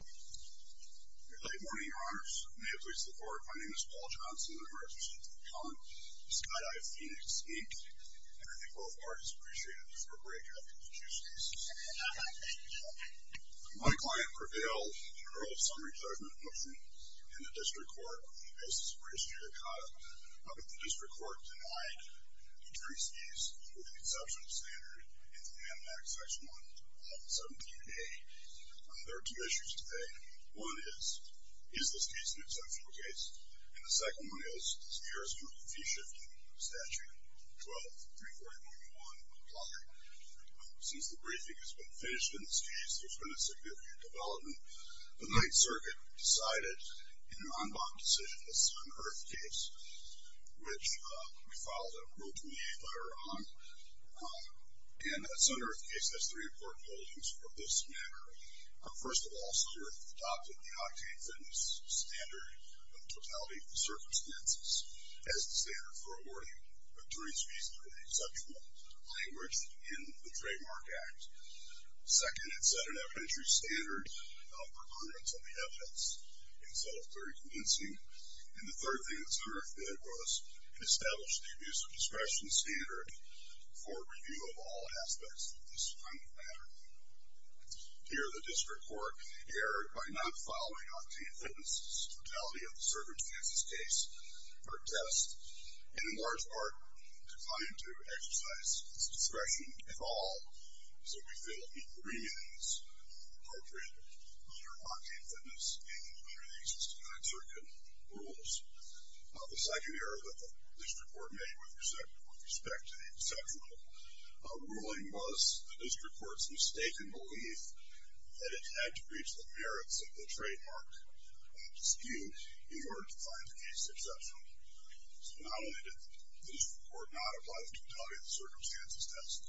Good morning, your honors. May it please the court, my name is Paul Johnson. I'm a resident of the town of Skydive Phoenix, Inc. and I think both parties appreciate a discord break after the two skis. My client prevailed in a rule of summary judgment motion in the district court on the basis of a history of the cause, but the district court denied the three skis with the exception of the standard in the MNAC Section 117a. There are two issues today. One is, is this case an exceptional case? And the second one is, is the jurisdiction of the fee-shifting statute 12-340.1 applying? Since the briefing has been finished in this case, there's been a significant development. The Ninth Circuit decided in an en banc decision a sun-earth case, which we filed a Rule 28 letter on. And a sun-earth case has three important holdings of this manner. First of all, sun-earth adopted the octane fitness standard of the totality of the circumstances as the standard for awarding a jury's fees in an exceptional language in the Trademark Act. Second, it set an evidentiary standard for accordance on the evidence. It was held very convincing. And the third thing that sun-earth did was establish the abuse of discretion standard for review of all aspects of this kind of matter. Here, the district court erred by not following octane fitness totality of the circumstances of this case or test, and in large part declined to exercise its discretion at all. So, we failed to meet the agreements appropriate under octane fitness and under the existing Ninth Circuit rules. The second error that the district court made with respect to the exceptional ruling was the district court's mistaken belief that it had to reach the merits of the trademark dispute in order to find the case exceptional. So, not only did the district court not apply the totality of the circumstances test,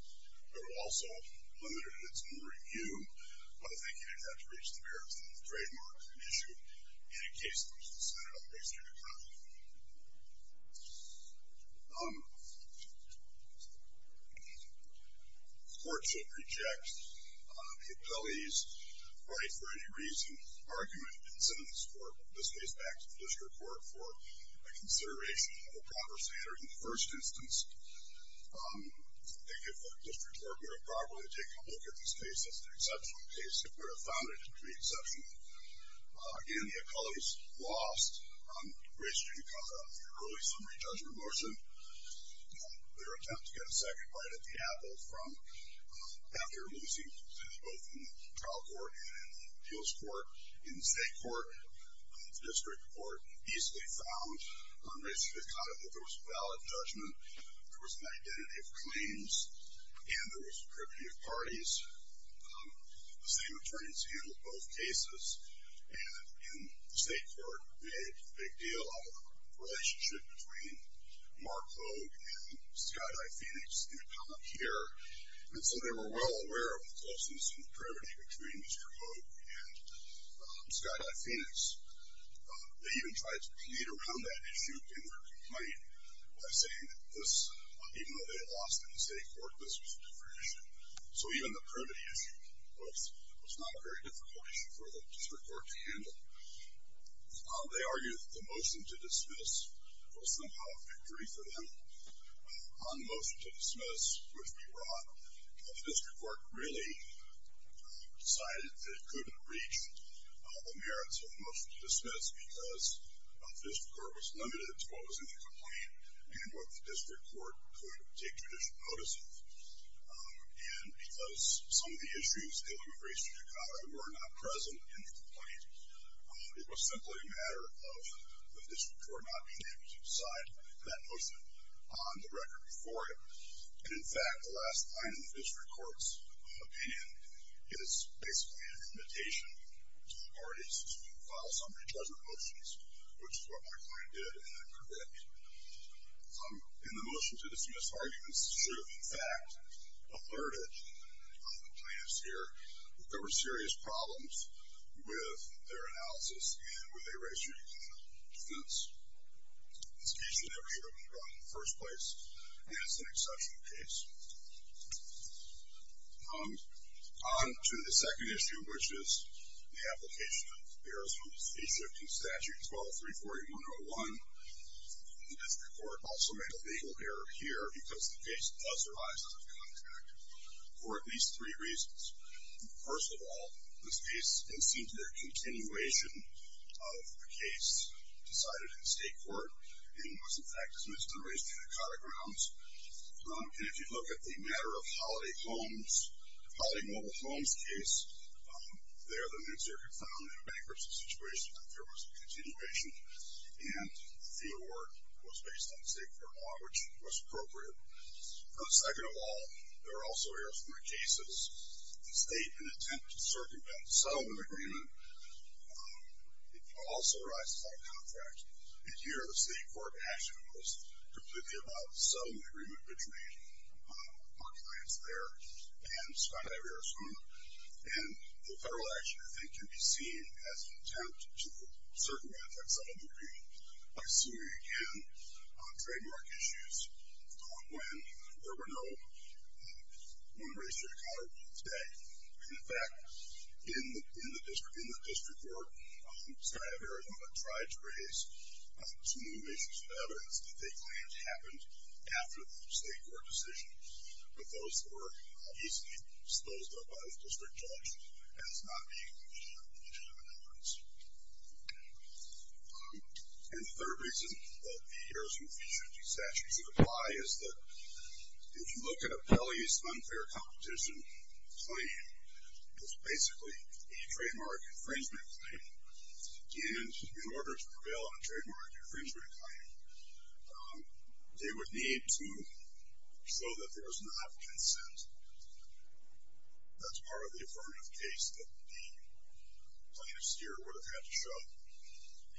but it also limited its own review by thinking it had to reach the merits of the trademark dispute in a case that was considered on the base of the contract. The court should reject the appellee's right for any reason, argument, and sentence, or in this case, back to the district court, for a consideration of a proper standard in the first instance. I think if the district court were to properly take a look at this case as the exceptional case, it would have found it to be exceptional. Again, the appellee's lost race judicata on the early summary judgment motion. Their attempt to get a second bite at the apple from after losing both in the trial court and the appeals court, in the state court, district court, easily found on race judicata that there was a valid judgment, there was an identity of claims, and there was a privity of parties. The same attorneys handled both cases, and the state court made a big deal out of the relationship between Mark Hogue and Skydye Phoenix, the appellant here. And so they were well aware of the closeness and the privity between Mr. Hogue and Skydye Phoenix. They even tried to plead around that issue in their complaint by saying that this, even though they lost in the state court, this was a different issue. So even the privity issue was not a very difficult issue for the district court to handle. They argued that the motion to dismiss was somehow a victory for them. On the motion to dismiss, which we brought, the district court really decided that it couldn't reach the merits of the motion to dismiss because the district court was limited to what was in the complaint and what the district court could take judicial notice of. And because some of the issues dealing with race judicata were not present in the complaint, it was simply a matter of the district court not being able to decide that motion on the record before it. And, in fact, the last line in the district court's opinion is basically an invitation to the parties to file summary judgment motions, which is what my client did, and I correct. In the motion to dismiss arguments, the district, in fact, alerted the plaintiffs here that there were serious problems with their analysis and with a race judicata defense. This case should never have even gone in the first place, and it's an exceptional case. On to the second issue, which is the application of errors from the state shifting statute 12-340-101. The district court also made a legal error here because the case does arise out of contact for at least three reasons. First of all, this case didn't seem to be a continuation of the case decided in state court and was, in fact, dismissed in the race judicata grounds. And if you look at the matter of Holiday Mobile Homes case, there the New Circuit found in a bankruptcy situation that there was a continuation, and the award was based on state court law, which was appropriate. Second of all, there are also errors from the cases. The state, in an attempt to circumvent the settlement agreement, also arises out of contact. And here the state court action was completely about the settlement agreement between our clients there and Skydive Arizona, and the federal action, I think, can be seen as an attempt to circumvent that settlement agreement by suing again on trademark issues when there were no one race judicata today. And, in fact, in the district court, Skydive Arizona tried to raise some new issues and evidence that they claimed happened after the state court decision, but those were obviously disposed of by the district judge as not being conditioned of evidence. And the third reason that the errors from the future of these statutes apply is that if you look at a Pelley's unfair competition claim, it's basically a trademark infringement claim. And in order to prevail on a trademark infringement claim, they would need to show that there was not consent. That's part of the affirmative case that the plaintiffs here would have had to show.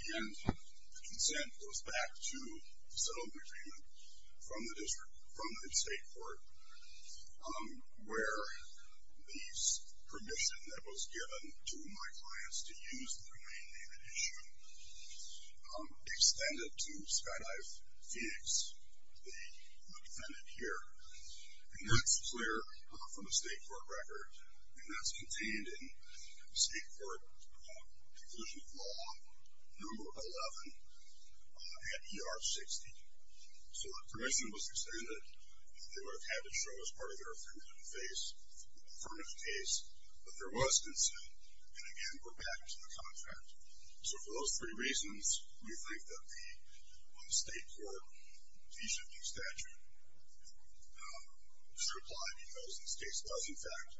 And the consent goes back to the settlement agreement from the district, from the state court, where the permission that was given to my clients to use the domain name and issue extended to Skydive Phoenix, the defendant here. And that's clear from the state court record, and that's contained in the state court conclusion of law, number 11 at ER 60. So the permission was extended. They would have had to show as part of their affirmative case that there was consent. And again, we're back to the contract. So for those three reasons, we think that the state court de-shifting statute should apply because this case does, in fact,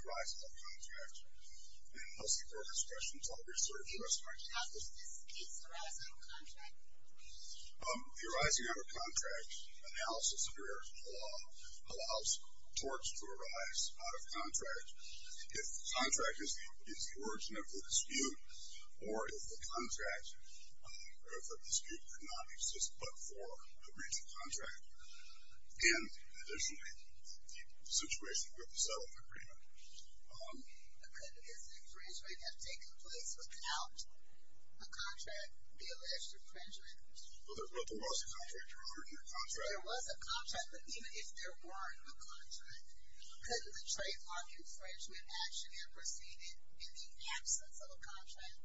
arise out of contract. And I'll see if there are any questions. I'll reserve the rest of my time. How does this case arise out of contract? The arising out of contract analysis under Arizona law allows torts to arise out of contract. If the contract is the origin of the dispute or if the dispute could not exist but for a breach of contract, and additionally, the situation with the settlement agreement. Could an infringement have taken place without a contract being an infringement? Well, there was a contract. There was a contract, but even if there weren't a contract, could the trademark infringement action have proceeded in the absence of a contract?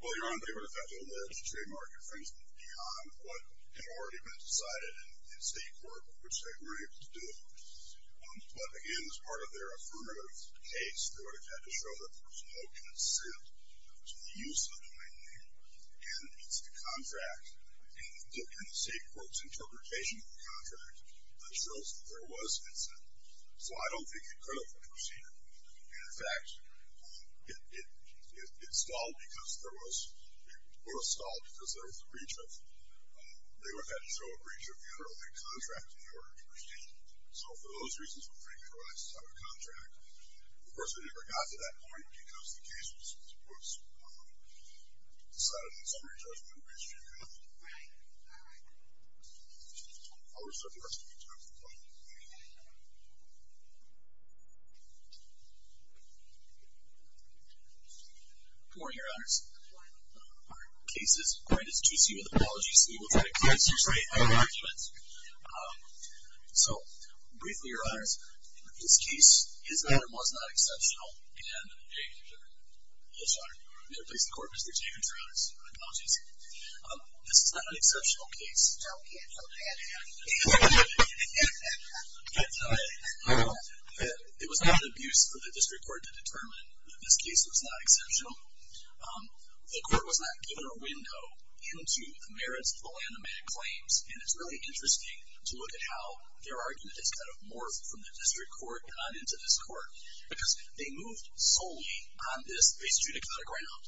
Well, Your Honor, they would have had to allege trademark infringement beyond what had already been decided in state court, which they were able to do. But again, as part of their affirmative case, they would have had to show that there was no consent to the use of the right name. And it's the contract. And the state court's interpretation of the contract shows that there was consent. So I don't think it could have proceeded. In fact, it stalled because there was a breach of, they would have had to show a breach of the underlying contract in order to proceed. So for those reasons, infringement arises out of contract. Of course, it never got to that point because the case was decided in a summary judgment based on nothing. All right. All right. I'll reserve the rest of my time. Thank you very much. Good morning, Your Honors. Good morning. Our case is granted to GC with apologies. We will take a closer look at our arguments. So briefly, Your Honors, in this case, his attorney was not exceptional. And in the case of the court, Mr. Jacobs, Your Honors, apologies. This is not an exceptional case. It was not abuse for the district court to determine that this case was not exceptional. The court was not given a window into the merits of the land amendment claims. And it's really interesting to look at how their argument has kind of morphed from the district court and on into this court. Because they moved solely on this base judicata ground.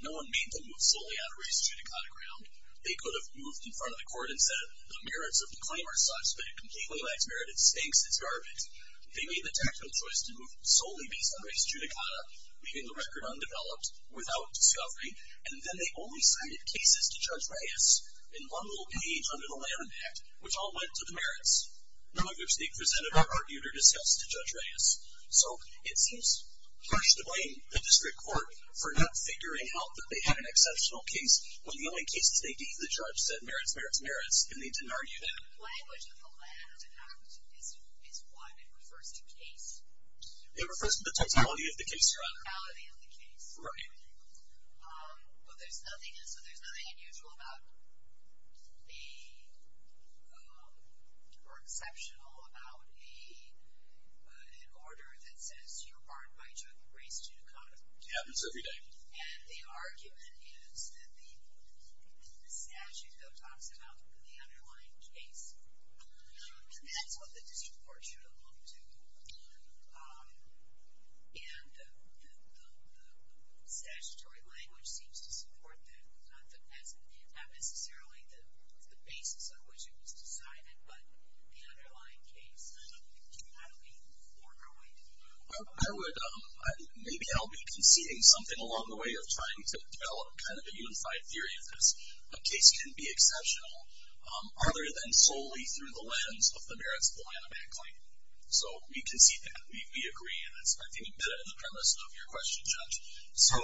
No one made them move solely on a race judicata ground. They could have moved in front of the court and said, the merits of the claim are such that a completely lax merit, it stinks. It's garbage. They made the tactical choice to move solely based on race judicata, leaving the record undeveloped, without discovery. And then they only cited cases to Judge Reyes in one little page under the Land Impact, which all went to the merits, none of which the presenter argued or discussed to Judge Reyes. So it seems harsh to blame the district court for not figuring out that they had an exceptional case when the only cases they deemed the judge said, merits, merits, merits. And they didn't argue that. The language of the Land Act is what? It refers to case. It refers to the totality of the case, rather. Totality of the case. Right. But there's nothing unusual about or exceptional about an order that says, you're barred by judge race judicata. It happens every day. And the argument is that the statute, though, talks about the underlying case. And that's what the district court should have looked to. And the statutory language seems to support that. Not necessarily the basis on which it was decided, but the underlying case. How do we move forward? I would, maybe I'll be conceding something along the way of trying to develop kind of a unified theory of this. A case can be exceptional other than solely through the lens of the merits of the Land Act claim. So we concede that. We agree. And that's, I think, embedded in the premise of your question, Judge. So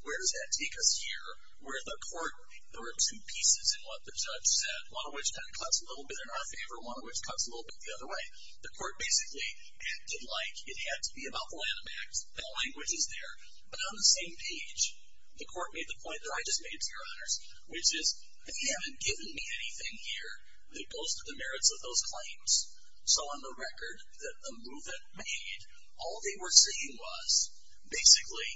where does that take us here? Where the court, there were two pieces in what the judge said, one of which kind of cuts a little bit in our favor, one of which cuts a little bit the other way. The court basically acted like it had to be about the Land Act. The language is there. But on the same page, the court made the point that I just made to your honors, which is they haven't given me anything here that goes to the merits of those claims. So on the record that the movement made, all they were saying was, basically,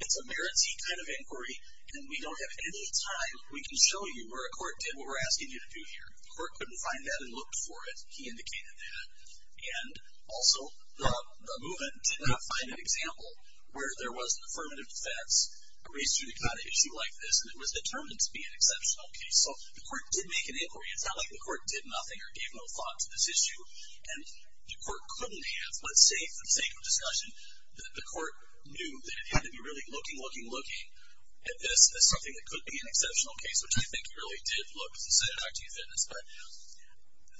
it's a merit-y kind of inquiry, and we don't have any time we can show you where a court did what we're asking you to do here. The court couldn't find that and look for it. He indicated that. And also, the movement did not find an example where there was an affirmative defense raised to the kind of issue like this, and it was determined to be an exceptional case. So the court did make an inquiry. It's not like the court did nothing or gave no thought to this issue. And the court couldn't have, but for the sake of discussion, the court knew that it had to be really looking, looking, looking at this as something that could be an exceptional case, which I think it really did look, as you said, Dr. E. Fitness. But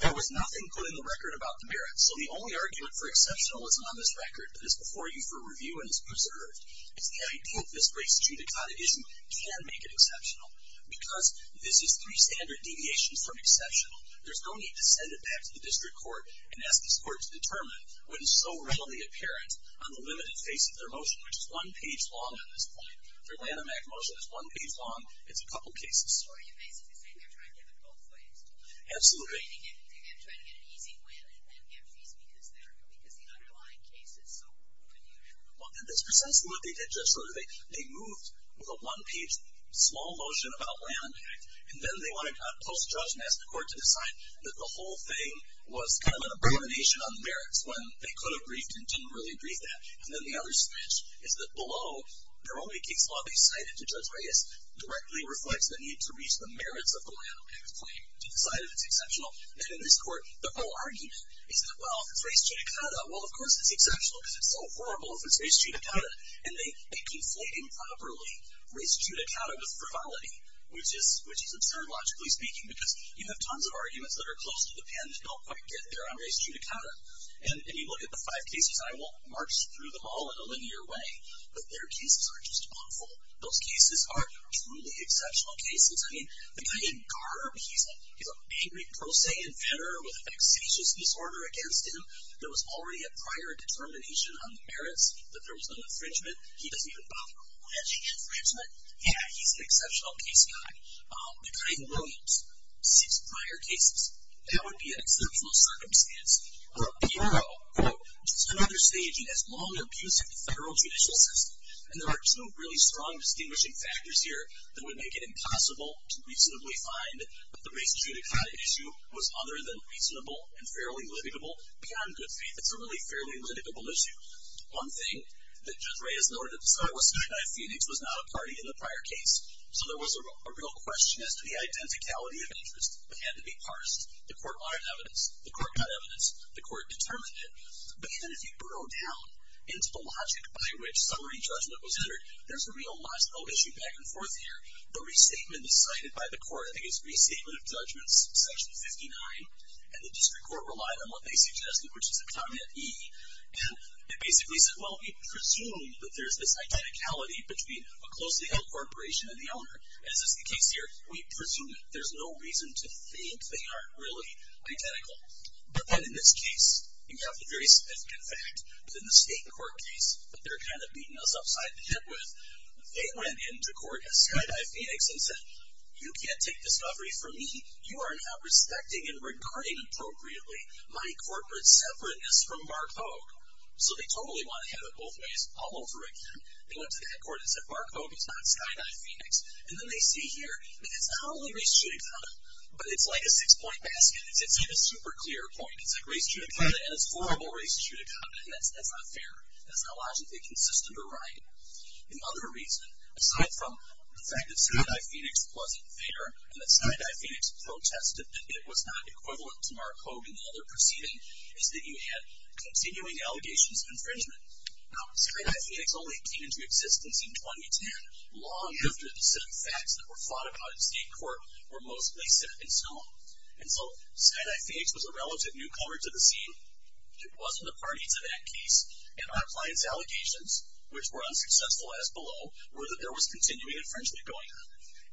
there was nothing put in the record about the merit. So the only argument for exceptionalism on this record that is before you for review and is preserved is the idea that this race-judicata issue can make it exceptional. Because this is three standard deviations from exceptional, there's no need to send it back to the district court and ask this court to determine what is so readily apparent on the limited face of their motion, which is one page long at this point. Their Lanham Act motion is one page long. It's a couple cases. So are you basically saying they're trying to get them both ways? Absolutely. They're trying to get an easy win and get fees because the underlying case is so open. Well, that's precisely what they did, Judge Schroeder. They moved with a one-page small motion about Lanham Act. And then they went to post-judge and asked the court to decide that the whole thing was kind of an abomination on the merits when they could have briefed and didn't really brief that. And then the other snitch is that below, their only case law they cited to Judge Reyes directly reflects the need to reach the merits of the Lanham Act claim to decide if it's exceptional. And in this court, their whole argument is that, well, if it's race judicata, well, of course it's exceptional because it's so horrible if it's race judicata. And they conflate improperly race judicata with frivolity, which is absurd logically speaking because you have tons of arguments that are close to the pen and don't quite get there on race judicata. And you look at the five cases. I won't march through them all in a linear way. But their cases are just awful. Those cases are truly exceptional cases. I mean, the guy named Garber, he's an angry pro se inventor with a facetious disorder against him that was already a prior determination on the merits that there was no infringement. He doesn't even bother with alleged infringement. Yeah, he's an exceptional case guy. The guy named Williams, six prior cases, that would be an exceptional circumstance. Or Piero, quote, just another saying he has long abused the federal judicial system. And there are two really strong distinguishing factors here that would make it impossible to reasonably find that the race judicata issue was other than reasonable and fairly litigable. Beyond good faith, it's a really fairly litigable issue. One thing that Judge Reyes in order to decide was Snyder and Phoenix was not a party in the prior case. So there was a real question as to the identicality of interest that had to be parsed. The court wanted evidence. The court got evidence. The court determined it. But even if you burrow down into the logic by which summary judgment was entered, there's a real last note issue back and forth here. The restatement decided by the court, I think it's Restatement of Judgments, section 59. And the district court relied on what they suggested, which is a comment E. And it basically said, well, we presume that there's this identicality between a closely held corporation and the owner. As is the case here, we presume that there's no reason to think they aren't really identical. But then in this case, you have the very significant fact that in the state court case that they're kind of beating us upside the head with, they went into court as Skydive Phoenix and said, you can't take discovery from me. You are not respecting and regarding appropriately my corporate separateness from Mark Hogue. So they totally want to have it both ways all over again. They went to the headquarters and said, Mark Hogue is not Skydive Phoenix. And then they see here, it's not only race judicata, but it's like a six-point basket. It's not a super clear point. It's race judicata, and it's horrible race judicata. And that's not fair. That's not logically consistent or right. Another reason, aside from the fact that Skydive Phoenix wasn't fair and that Skydive Phoenix protested that it was not equivalent to Mark Hogue in the other proceeding, is that you had continuing allegations of infringement. Now, Skydive Phoenix only came into existence in 2010, long after the set of facts that were fought about in state court were mostly set in stone. And so Skydive Phoenix was a relative newcomer to the scene. It wasn't a party to that case. And our client's allegations, which were unsuccessful as below, were that there was continuing infringement going on.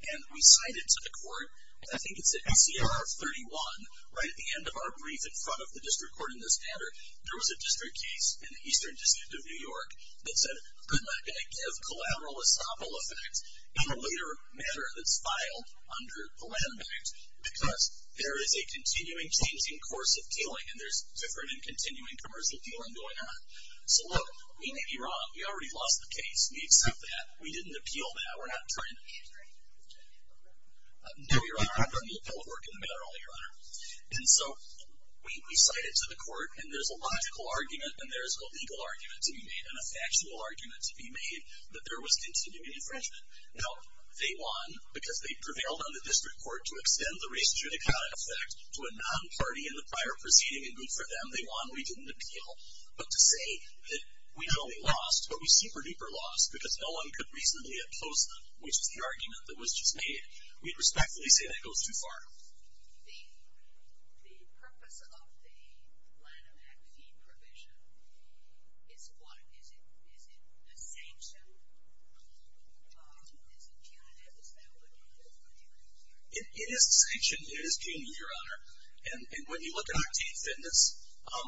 And we cited to the court, I think it's at ACR 31, right at the end of our brief in front of the district court in this matter, there was a district case in the Eastern District of New York that said, we're not going to give collateral estoppel effect in a later matter that's filed under the Land Act, because there is a continuing changing course of dealing, and there's different and continuing commercial dealing going on. So look, we may be wrong. We already lost the case. We accept that. We didn't appeal that. We're not trying to change that. No, Your Honor. I'm not going to appeal a work in the matter at all, Your Honor. And so we cited to the court, and there's a logical argument, and there's a legal argument to be made, and a factual argument to be made, that there was continuing infringement. Now, they won because they prevailed on the district court to extend the race judicata effect to a non-party in the prior proceeding. And good for them. They won. We didn't appeal. But to say that we not only lost, but we super-duper lost because no one could reasonably oppose them, which is the argument that was just made, we'd respectfully say that goes too far. The purpose of the Land Act fee provision is what? Is it a sanction? Is it punitive? Is that what you're referring to? It is a sanction. It is punitive, Your Honor. And when you look at Octave Fitness,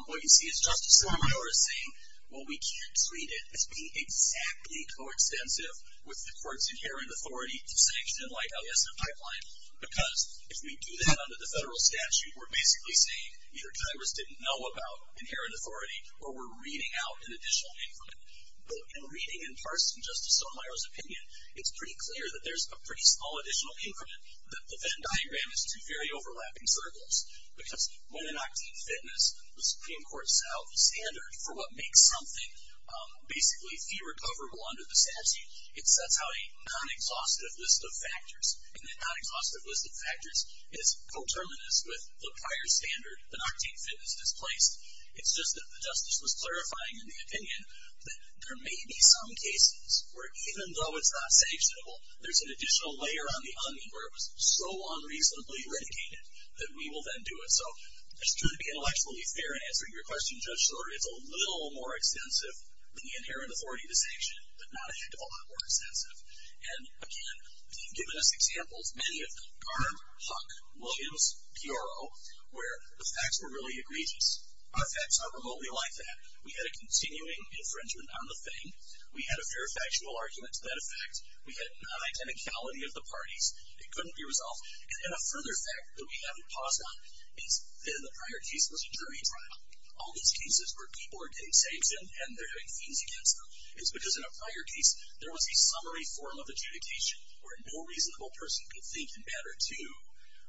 what you see is Justice Sotomayor is saying, well, we can't treat it as being exactly coextensive with the court's inherent authority to sanction in light, alias, of pipeline. Because if we do that under the federal statute, we're basically saying either Congress didn't know about inherent authority or we're reading out an additional increment. But in reading in person Justice Sotomayor's opinion, it's pretty clear that there's a pretty small additional increment that the Venn diagram is too fairly overlapping circles because when an Octave Fitness, the Supreme Court set out the standard for what makes something basically fee recoverable under the statute, it sets out a non-exhaustive list of factors. And that non-exhaustive list of factors is coterminous with the prior standard that Octave Fitness displaced. It's just that the Justice was clarifying in the opinion that there may be some cases where even though it's not sanctionable, there's an additional layer on the onion where it was so unreasonably renegaded that we will then do it. So it's true to be intellectually fair in answering your question, Judge Sotomayor, it's a little more extensive than the inherent authority to sanction, but not a heck of a lot more extensive. And again, you've given us examples, many of them, Garm, Huck, Williams, Piero, where the facts were really egregious. Our facts are remotely like that. We had a continuing infringement on the thing. We had a fair factual argument to that effect. We had an unidenticality of the parties. It couldn't be resolved. And then a further fact that we haven't paused on is that in the prior case, it was a jury trial. All these cases where people are getting saves in and they're having fiends against them. It's because in a prior case, there was a summary form of adjudication where no reasonable person could think in matter two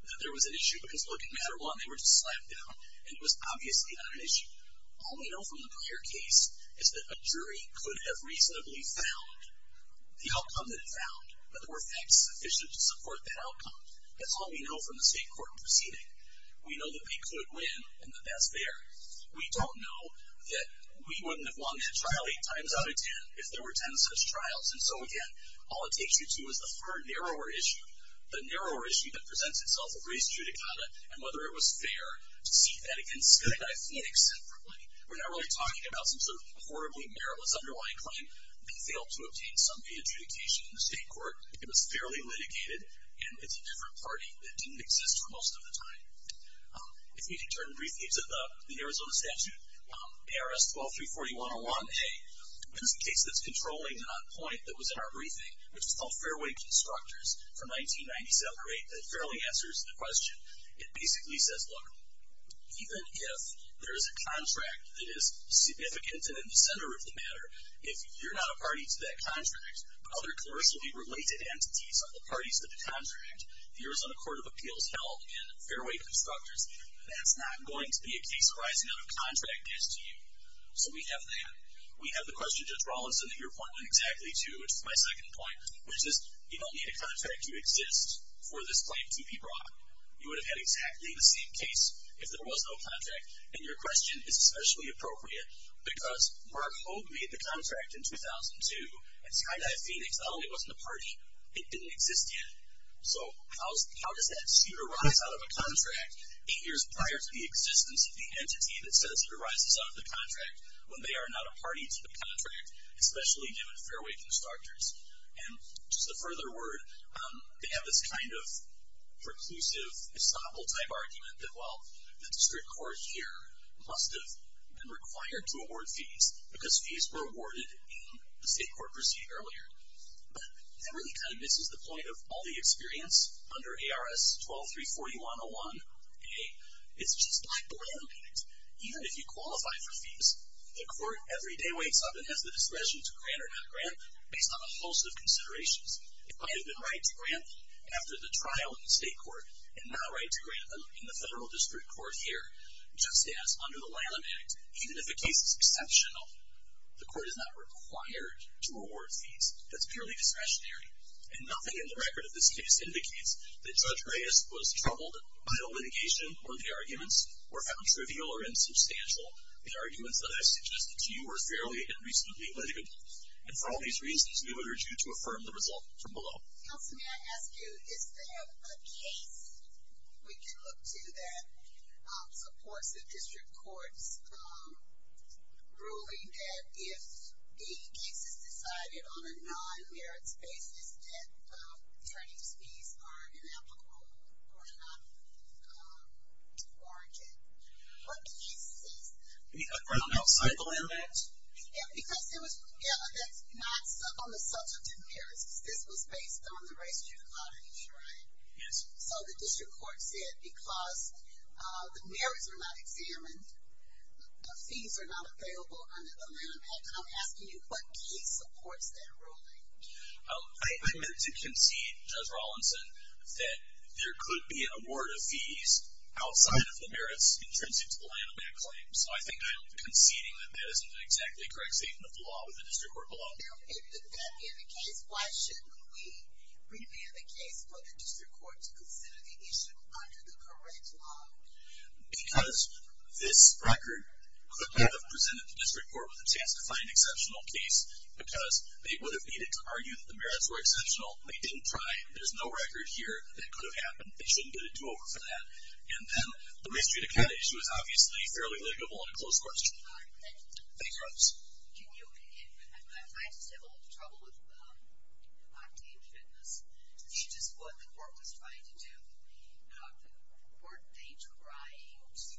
that there was an issue because, look, in matter one, they were just slapped down, and it was obviously not an issue. All we know from the prior case is that a jury could have reasonably found the outcome that it found, but there were facts sufficient to support that outcome. That's all we know from the state court proceeding. We know that they could win, and that that's fair. We don't know that we wouldn't have won that trial eight times out of ten if there were ten such trials. And so, again, all it takes you to is the far narrower issue, the narrower issue that presents itself of race judicata and whether it was fair to seek that against Skydive Phoenix separately. We're not really talking about some sort of horribly meritless underlying claim. We failed to obtain summary adjudication in the state court. It was fairly litigated, and it's a different party that didn't exist for most of the time. If we could turn briefly to the Arizona statute, ARS-12-340-101-A. This is a case that's controlling and on point that was in our briefing, which is called Fairway Constructors from 1997 to 2008 that fairly answers the question. It basically says, look, even if there is a contract that is significant and in the center of the matter, if you're not a party to that contract, but other commercially related entities are the parties to the contract, the Arizona Court of Appeals held in Fairway Constructors, that's not going to be a case arising out of contract as to you. So we have that. We have the question Judge Rawlinson that your point went exactly to, which is my second point, which is you don't need a contract to exist for this claim to be brought. You would have had exactly the same case if there was no contract. And that's not appropriate because Mark Hogue made the contract in 2002 at Skydive Phoenix. Oh, it wasn't a party. It didn't exist yet. So how does that suit arise out of a contract eight years prior to the existence of the entity that says it arises out of the contract when they are not a party to the contract, especially given Fairway Constructors? And just a further word, they have this kind of preclusive estoppel-type argument that, well, the district court here must have been required to award fees because fees were awarded in the state court proceeding earlier. But that really kind of misses the point of all the experience under ARS 12-341-01-A. It's just black-and-white. Even if you qualify for fees, the court every day wakes up and has the discretion to grant or not grant based on a host of considerations. It might have been right to grant after the trial in the state court and not right to grant in the federal district court here. Just as under the Lilum Act, even if a case is exceptional, the court is not required to award fees. That's purely discretionary. And nothing in the record of this case indicates that Judge Reyes was troubled by a litigation or the arguments were found trivial or insubstantial. The arguments that I suggested to you were fairly and reasonably litigable. And for all these reasons, we would urge you to affirm the result from below. Counselor, may I ask you, is there a case we can look to that supports the district court's ruling that if the case is decided on a non-merits basis, that attorney's fees are ineligible or not warranted? Are there no cycle in that? Yeah, that's not on the substantive merits. This was based on the race to the cottage, right? Yes. So the district court said because the merits are not examined, the fees are not available under the Lilum Act. And I'm asking you, what case supports that ruling? I meant to concede, Judge Rawlinson, that there could be an award of fees outside of the merits intrinsic to the Lilum Act claim. So I think I'm conceding that that isn't an exactly correct statement of the law with the district court below. If that is the case, why shouldn't we review the case for the district court to consider the issue under the correct law? Because this record could have presented the district court with a chance to find an exceptional case because they would have needed to argue that the merits were exceptional. They didn't try. There's no record here that could have happened. They shouldn't get a do-over for that. And then the race to the cottage was obviously fairly legible and a close question. Thank you. I just have a little trouble with Octave Fitness. This is just what the court was trying to do. Weren't they trying to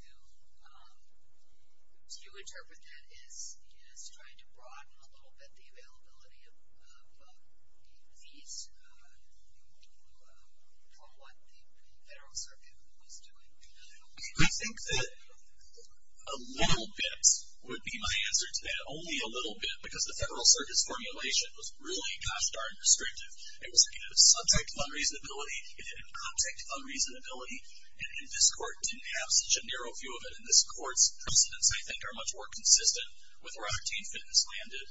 interpret that as trying to broaden a little bit the availability of fees from what the federal circuit was doing? I think that a little bit would be my answer to that. Only a little bit because the federal circuit's formulation was really, gosh darn, restrictive. It was subject of unreasonability. It had an object of unreasonability. And this court didn't have such a narrow view of it. And this court's precedents, I think, are much more consistent with where Octave Fitness landed.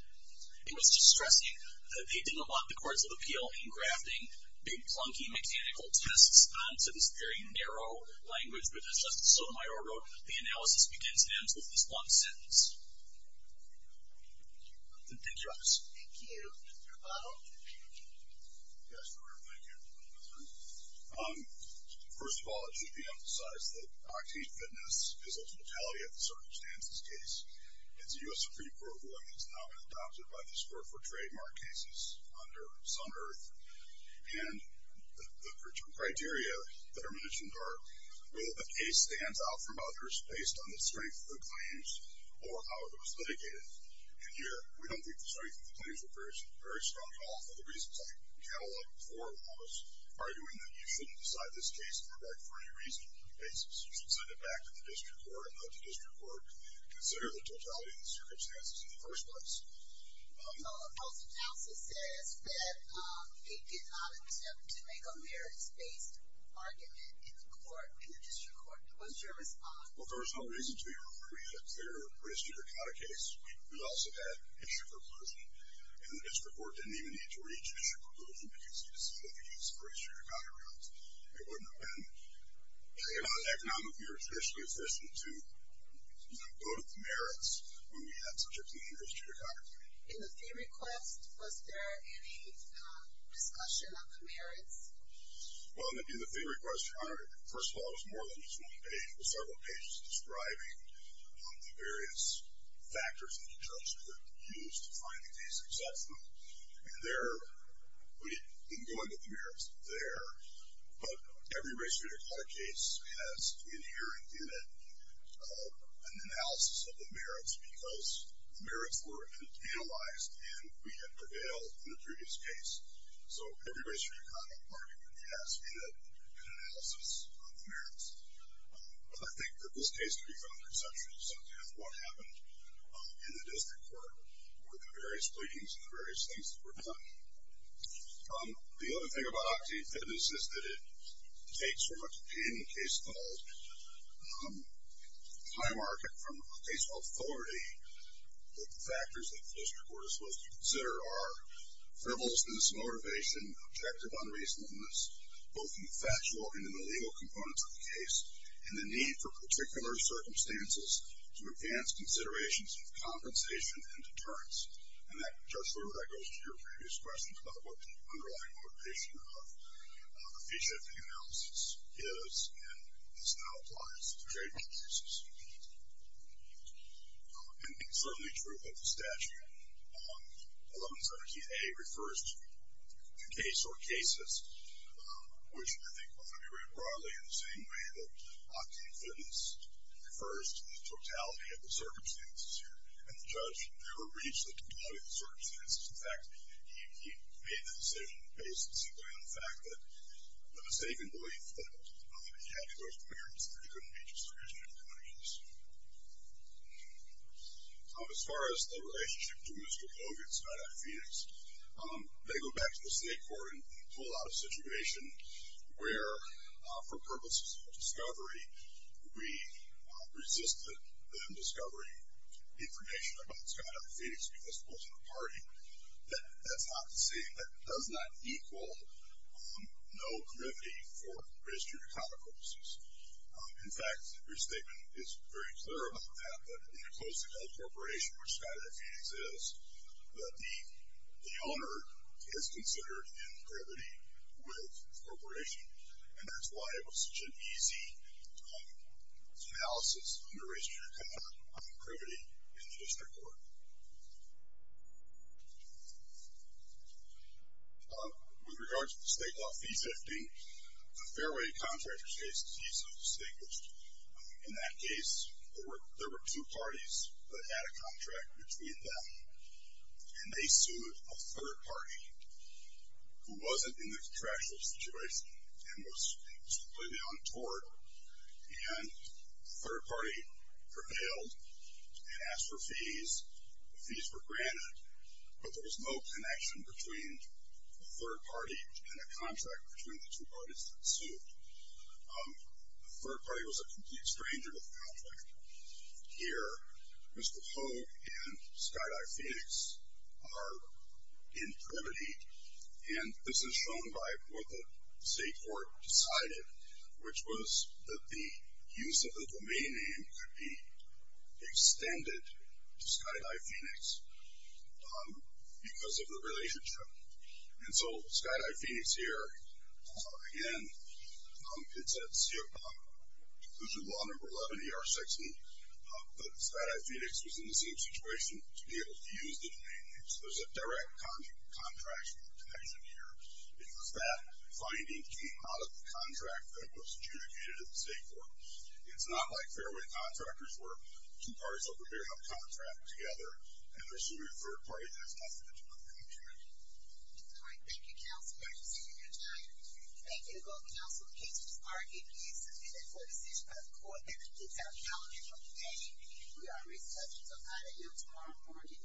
It was just stressing that they didn't want the courts of appeal to be grafting big clunky mechanical tests onto this very narrow language, which, as Justice Sotomayor wrote, the analysis begins and ends with this one sentence. Thank you. Thank you, Justice. Thank you. Mr. Otto. Yes, sure. Thank you. First of all, it should be emphasized that Octave Fitness is a totality of the circumstances case. It's a U.S. Supreme Court ruling. It's now been adopted by this court for trademark cases under Sun-Earth, and the criteria that are mentioned are whether the case stands out from others based on the strength of the claims or how it was litigated. And here, we don't think the strength of the claims were very strong at all for the reasons I catalogued before while I was arguing that you shouldn't decide this case on a right-free-reason basis. You should send it back to the district court and let the district court consider the totality of the circumstances in the first place. The House analysis says that it did not attempt to make a merits-based argument in the district court. What's your response? Well, there was no reason to refer you to a clear race judicata case. We also had issue proposal. And the district court didn't even need to reach issue proposal because you decided to use race judicata rules. It wouldn't have happened. In all economics, we were especially efficient to go to the merits when we had such a clean race judicata case. In the fee request, was there any discussion of the merits? Well, in the fee request, first of all, it was more than just one page. It was several pages describing the various factors and the terms that were used to find the case and accept them. And there, we didn't go into the merits there. But every race judicata case has, in here and in it, an analysis of the merits because the merits were analyzed and we had prevailed in the previous case. So every race judicata argument has had an analysis of the merits. But I think that this case can be found exceptionally subtle. What happened in the district court were the various pleadings and the various things that were done. The other thing about Octane Fed is this, is that it takes from Octane, a case called High Market, from a case called Authority, that the factors that the district court is supposed to consider are frivolousness, motivation, objective unreasonableness, both in the factual and in the legal components of the case, and the need for particular circumstances to advance considerations of compensation and deterrence. And, Judge Lurie, that goes to your previous question about what the underlying motivation of a fee-shifting analysis is and does not apply to trade policies. And it's certainly true that the statute, 1117A, refers to the case or cases, which I think ought to be read broadly in the same way that Octane Fed refers to the totality of the circumstances here. And the judge never reads the totality of the circumstances. In fact, he made the decision based simply on the fact that the mistaken belief that he had in those parameters couldn't be justified in any case. As far as the relationship to Mr. Hogan, Scott I. Phoenix, they go back to the state court and pull out a situation where, for purposes of discovery, we resisted them discovering information about Scott I. Phoenix because he was pulling a party. That's not the same. That does not equal no committee for registry of account purposes. In fact, your statement is very clear about that, that in a closed-end corporation, which Scott I. Phoenix is, that the owner is considered in committee with the corporation. And that's why it was such an easy analysis under registry of account on privity in the district court. With regards to the state law fee sifting, the Fairway Contractors case is easily distinguished. In that case, there were two parties that had a contract between them, and they sued a third party who wasn't in the contractual situation and was completely untoward. And the third party prevailed and asked for fees. The fees were granted, but there was no connection between the third party and a contract between the two parties that sued. The third party was a complete stranger to the contract. Here, Mr. Hogan and Scott I. Phoenix are in privity, and this is shown by what the state court decided, which was that the use of the domain name could be extended to Scott I. Phoenix because of the relationship. And so Scott I. Phoenix here, again, it's at conclusion law number 11 ER 16, but Scott I. Phoenix was in the same situation to be able to use the domain name. So there's a direct contractual connection here because that finding came out of the contract that was adjudicated at the state court. It's not like Fairway Contractors where two parties are preparing a contract together and they're suing a third party that's not in the contract. All right, thank you, counsel. I appreciate your time. Thank you to both counsel cases. Our D.P. is submitted for decision by the court. That concludes our calendar for today. We are recessed until 9 a.m. tomorrow morning.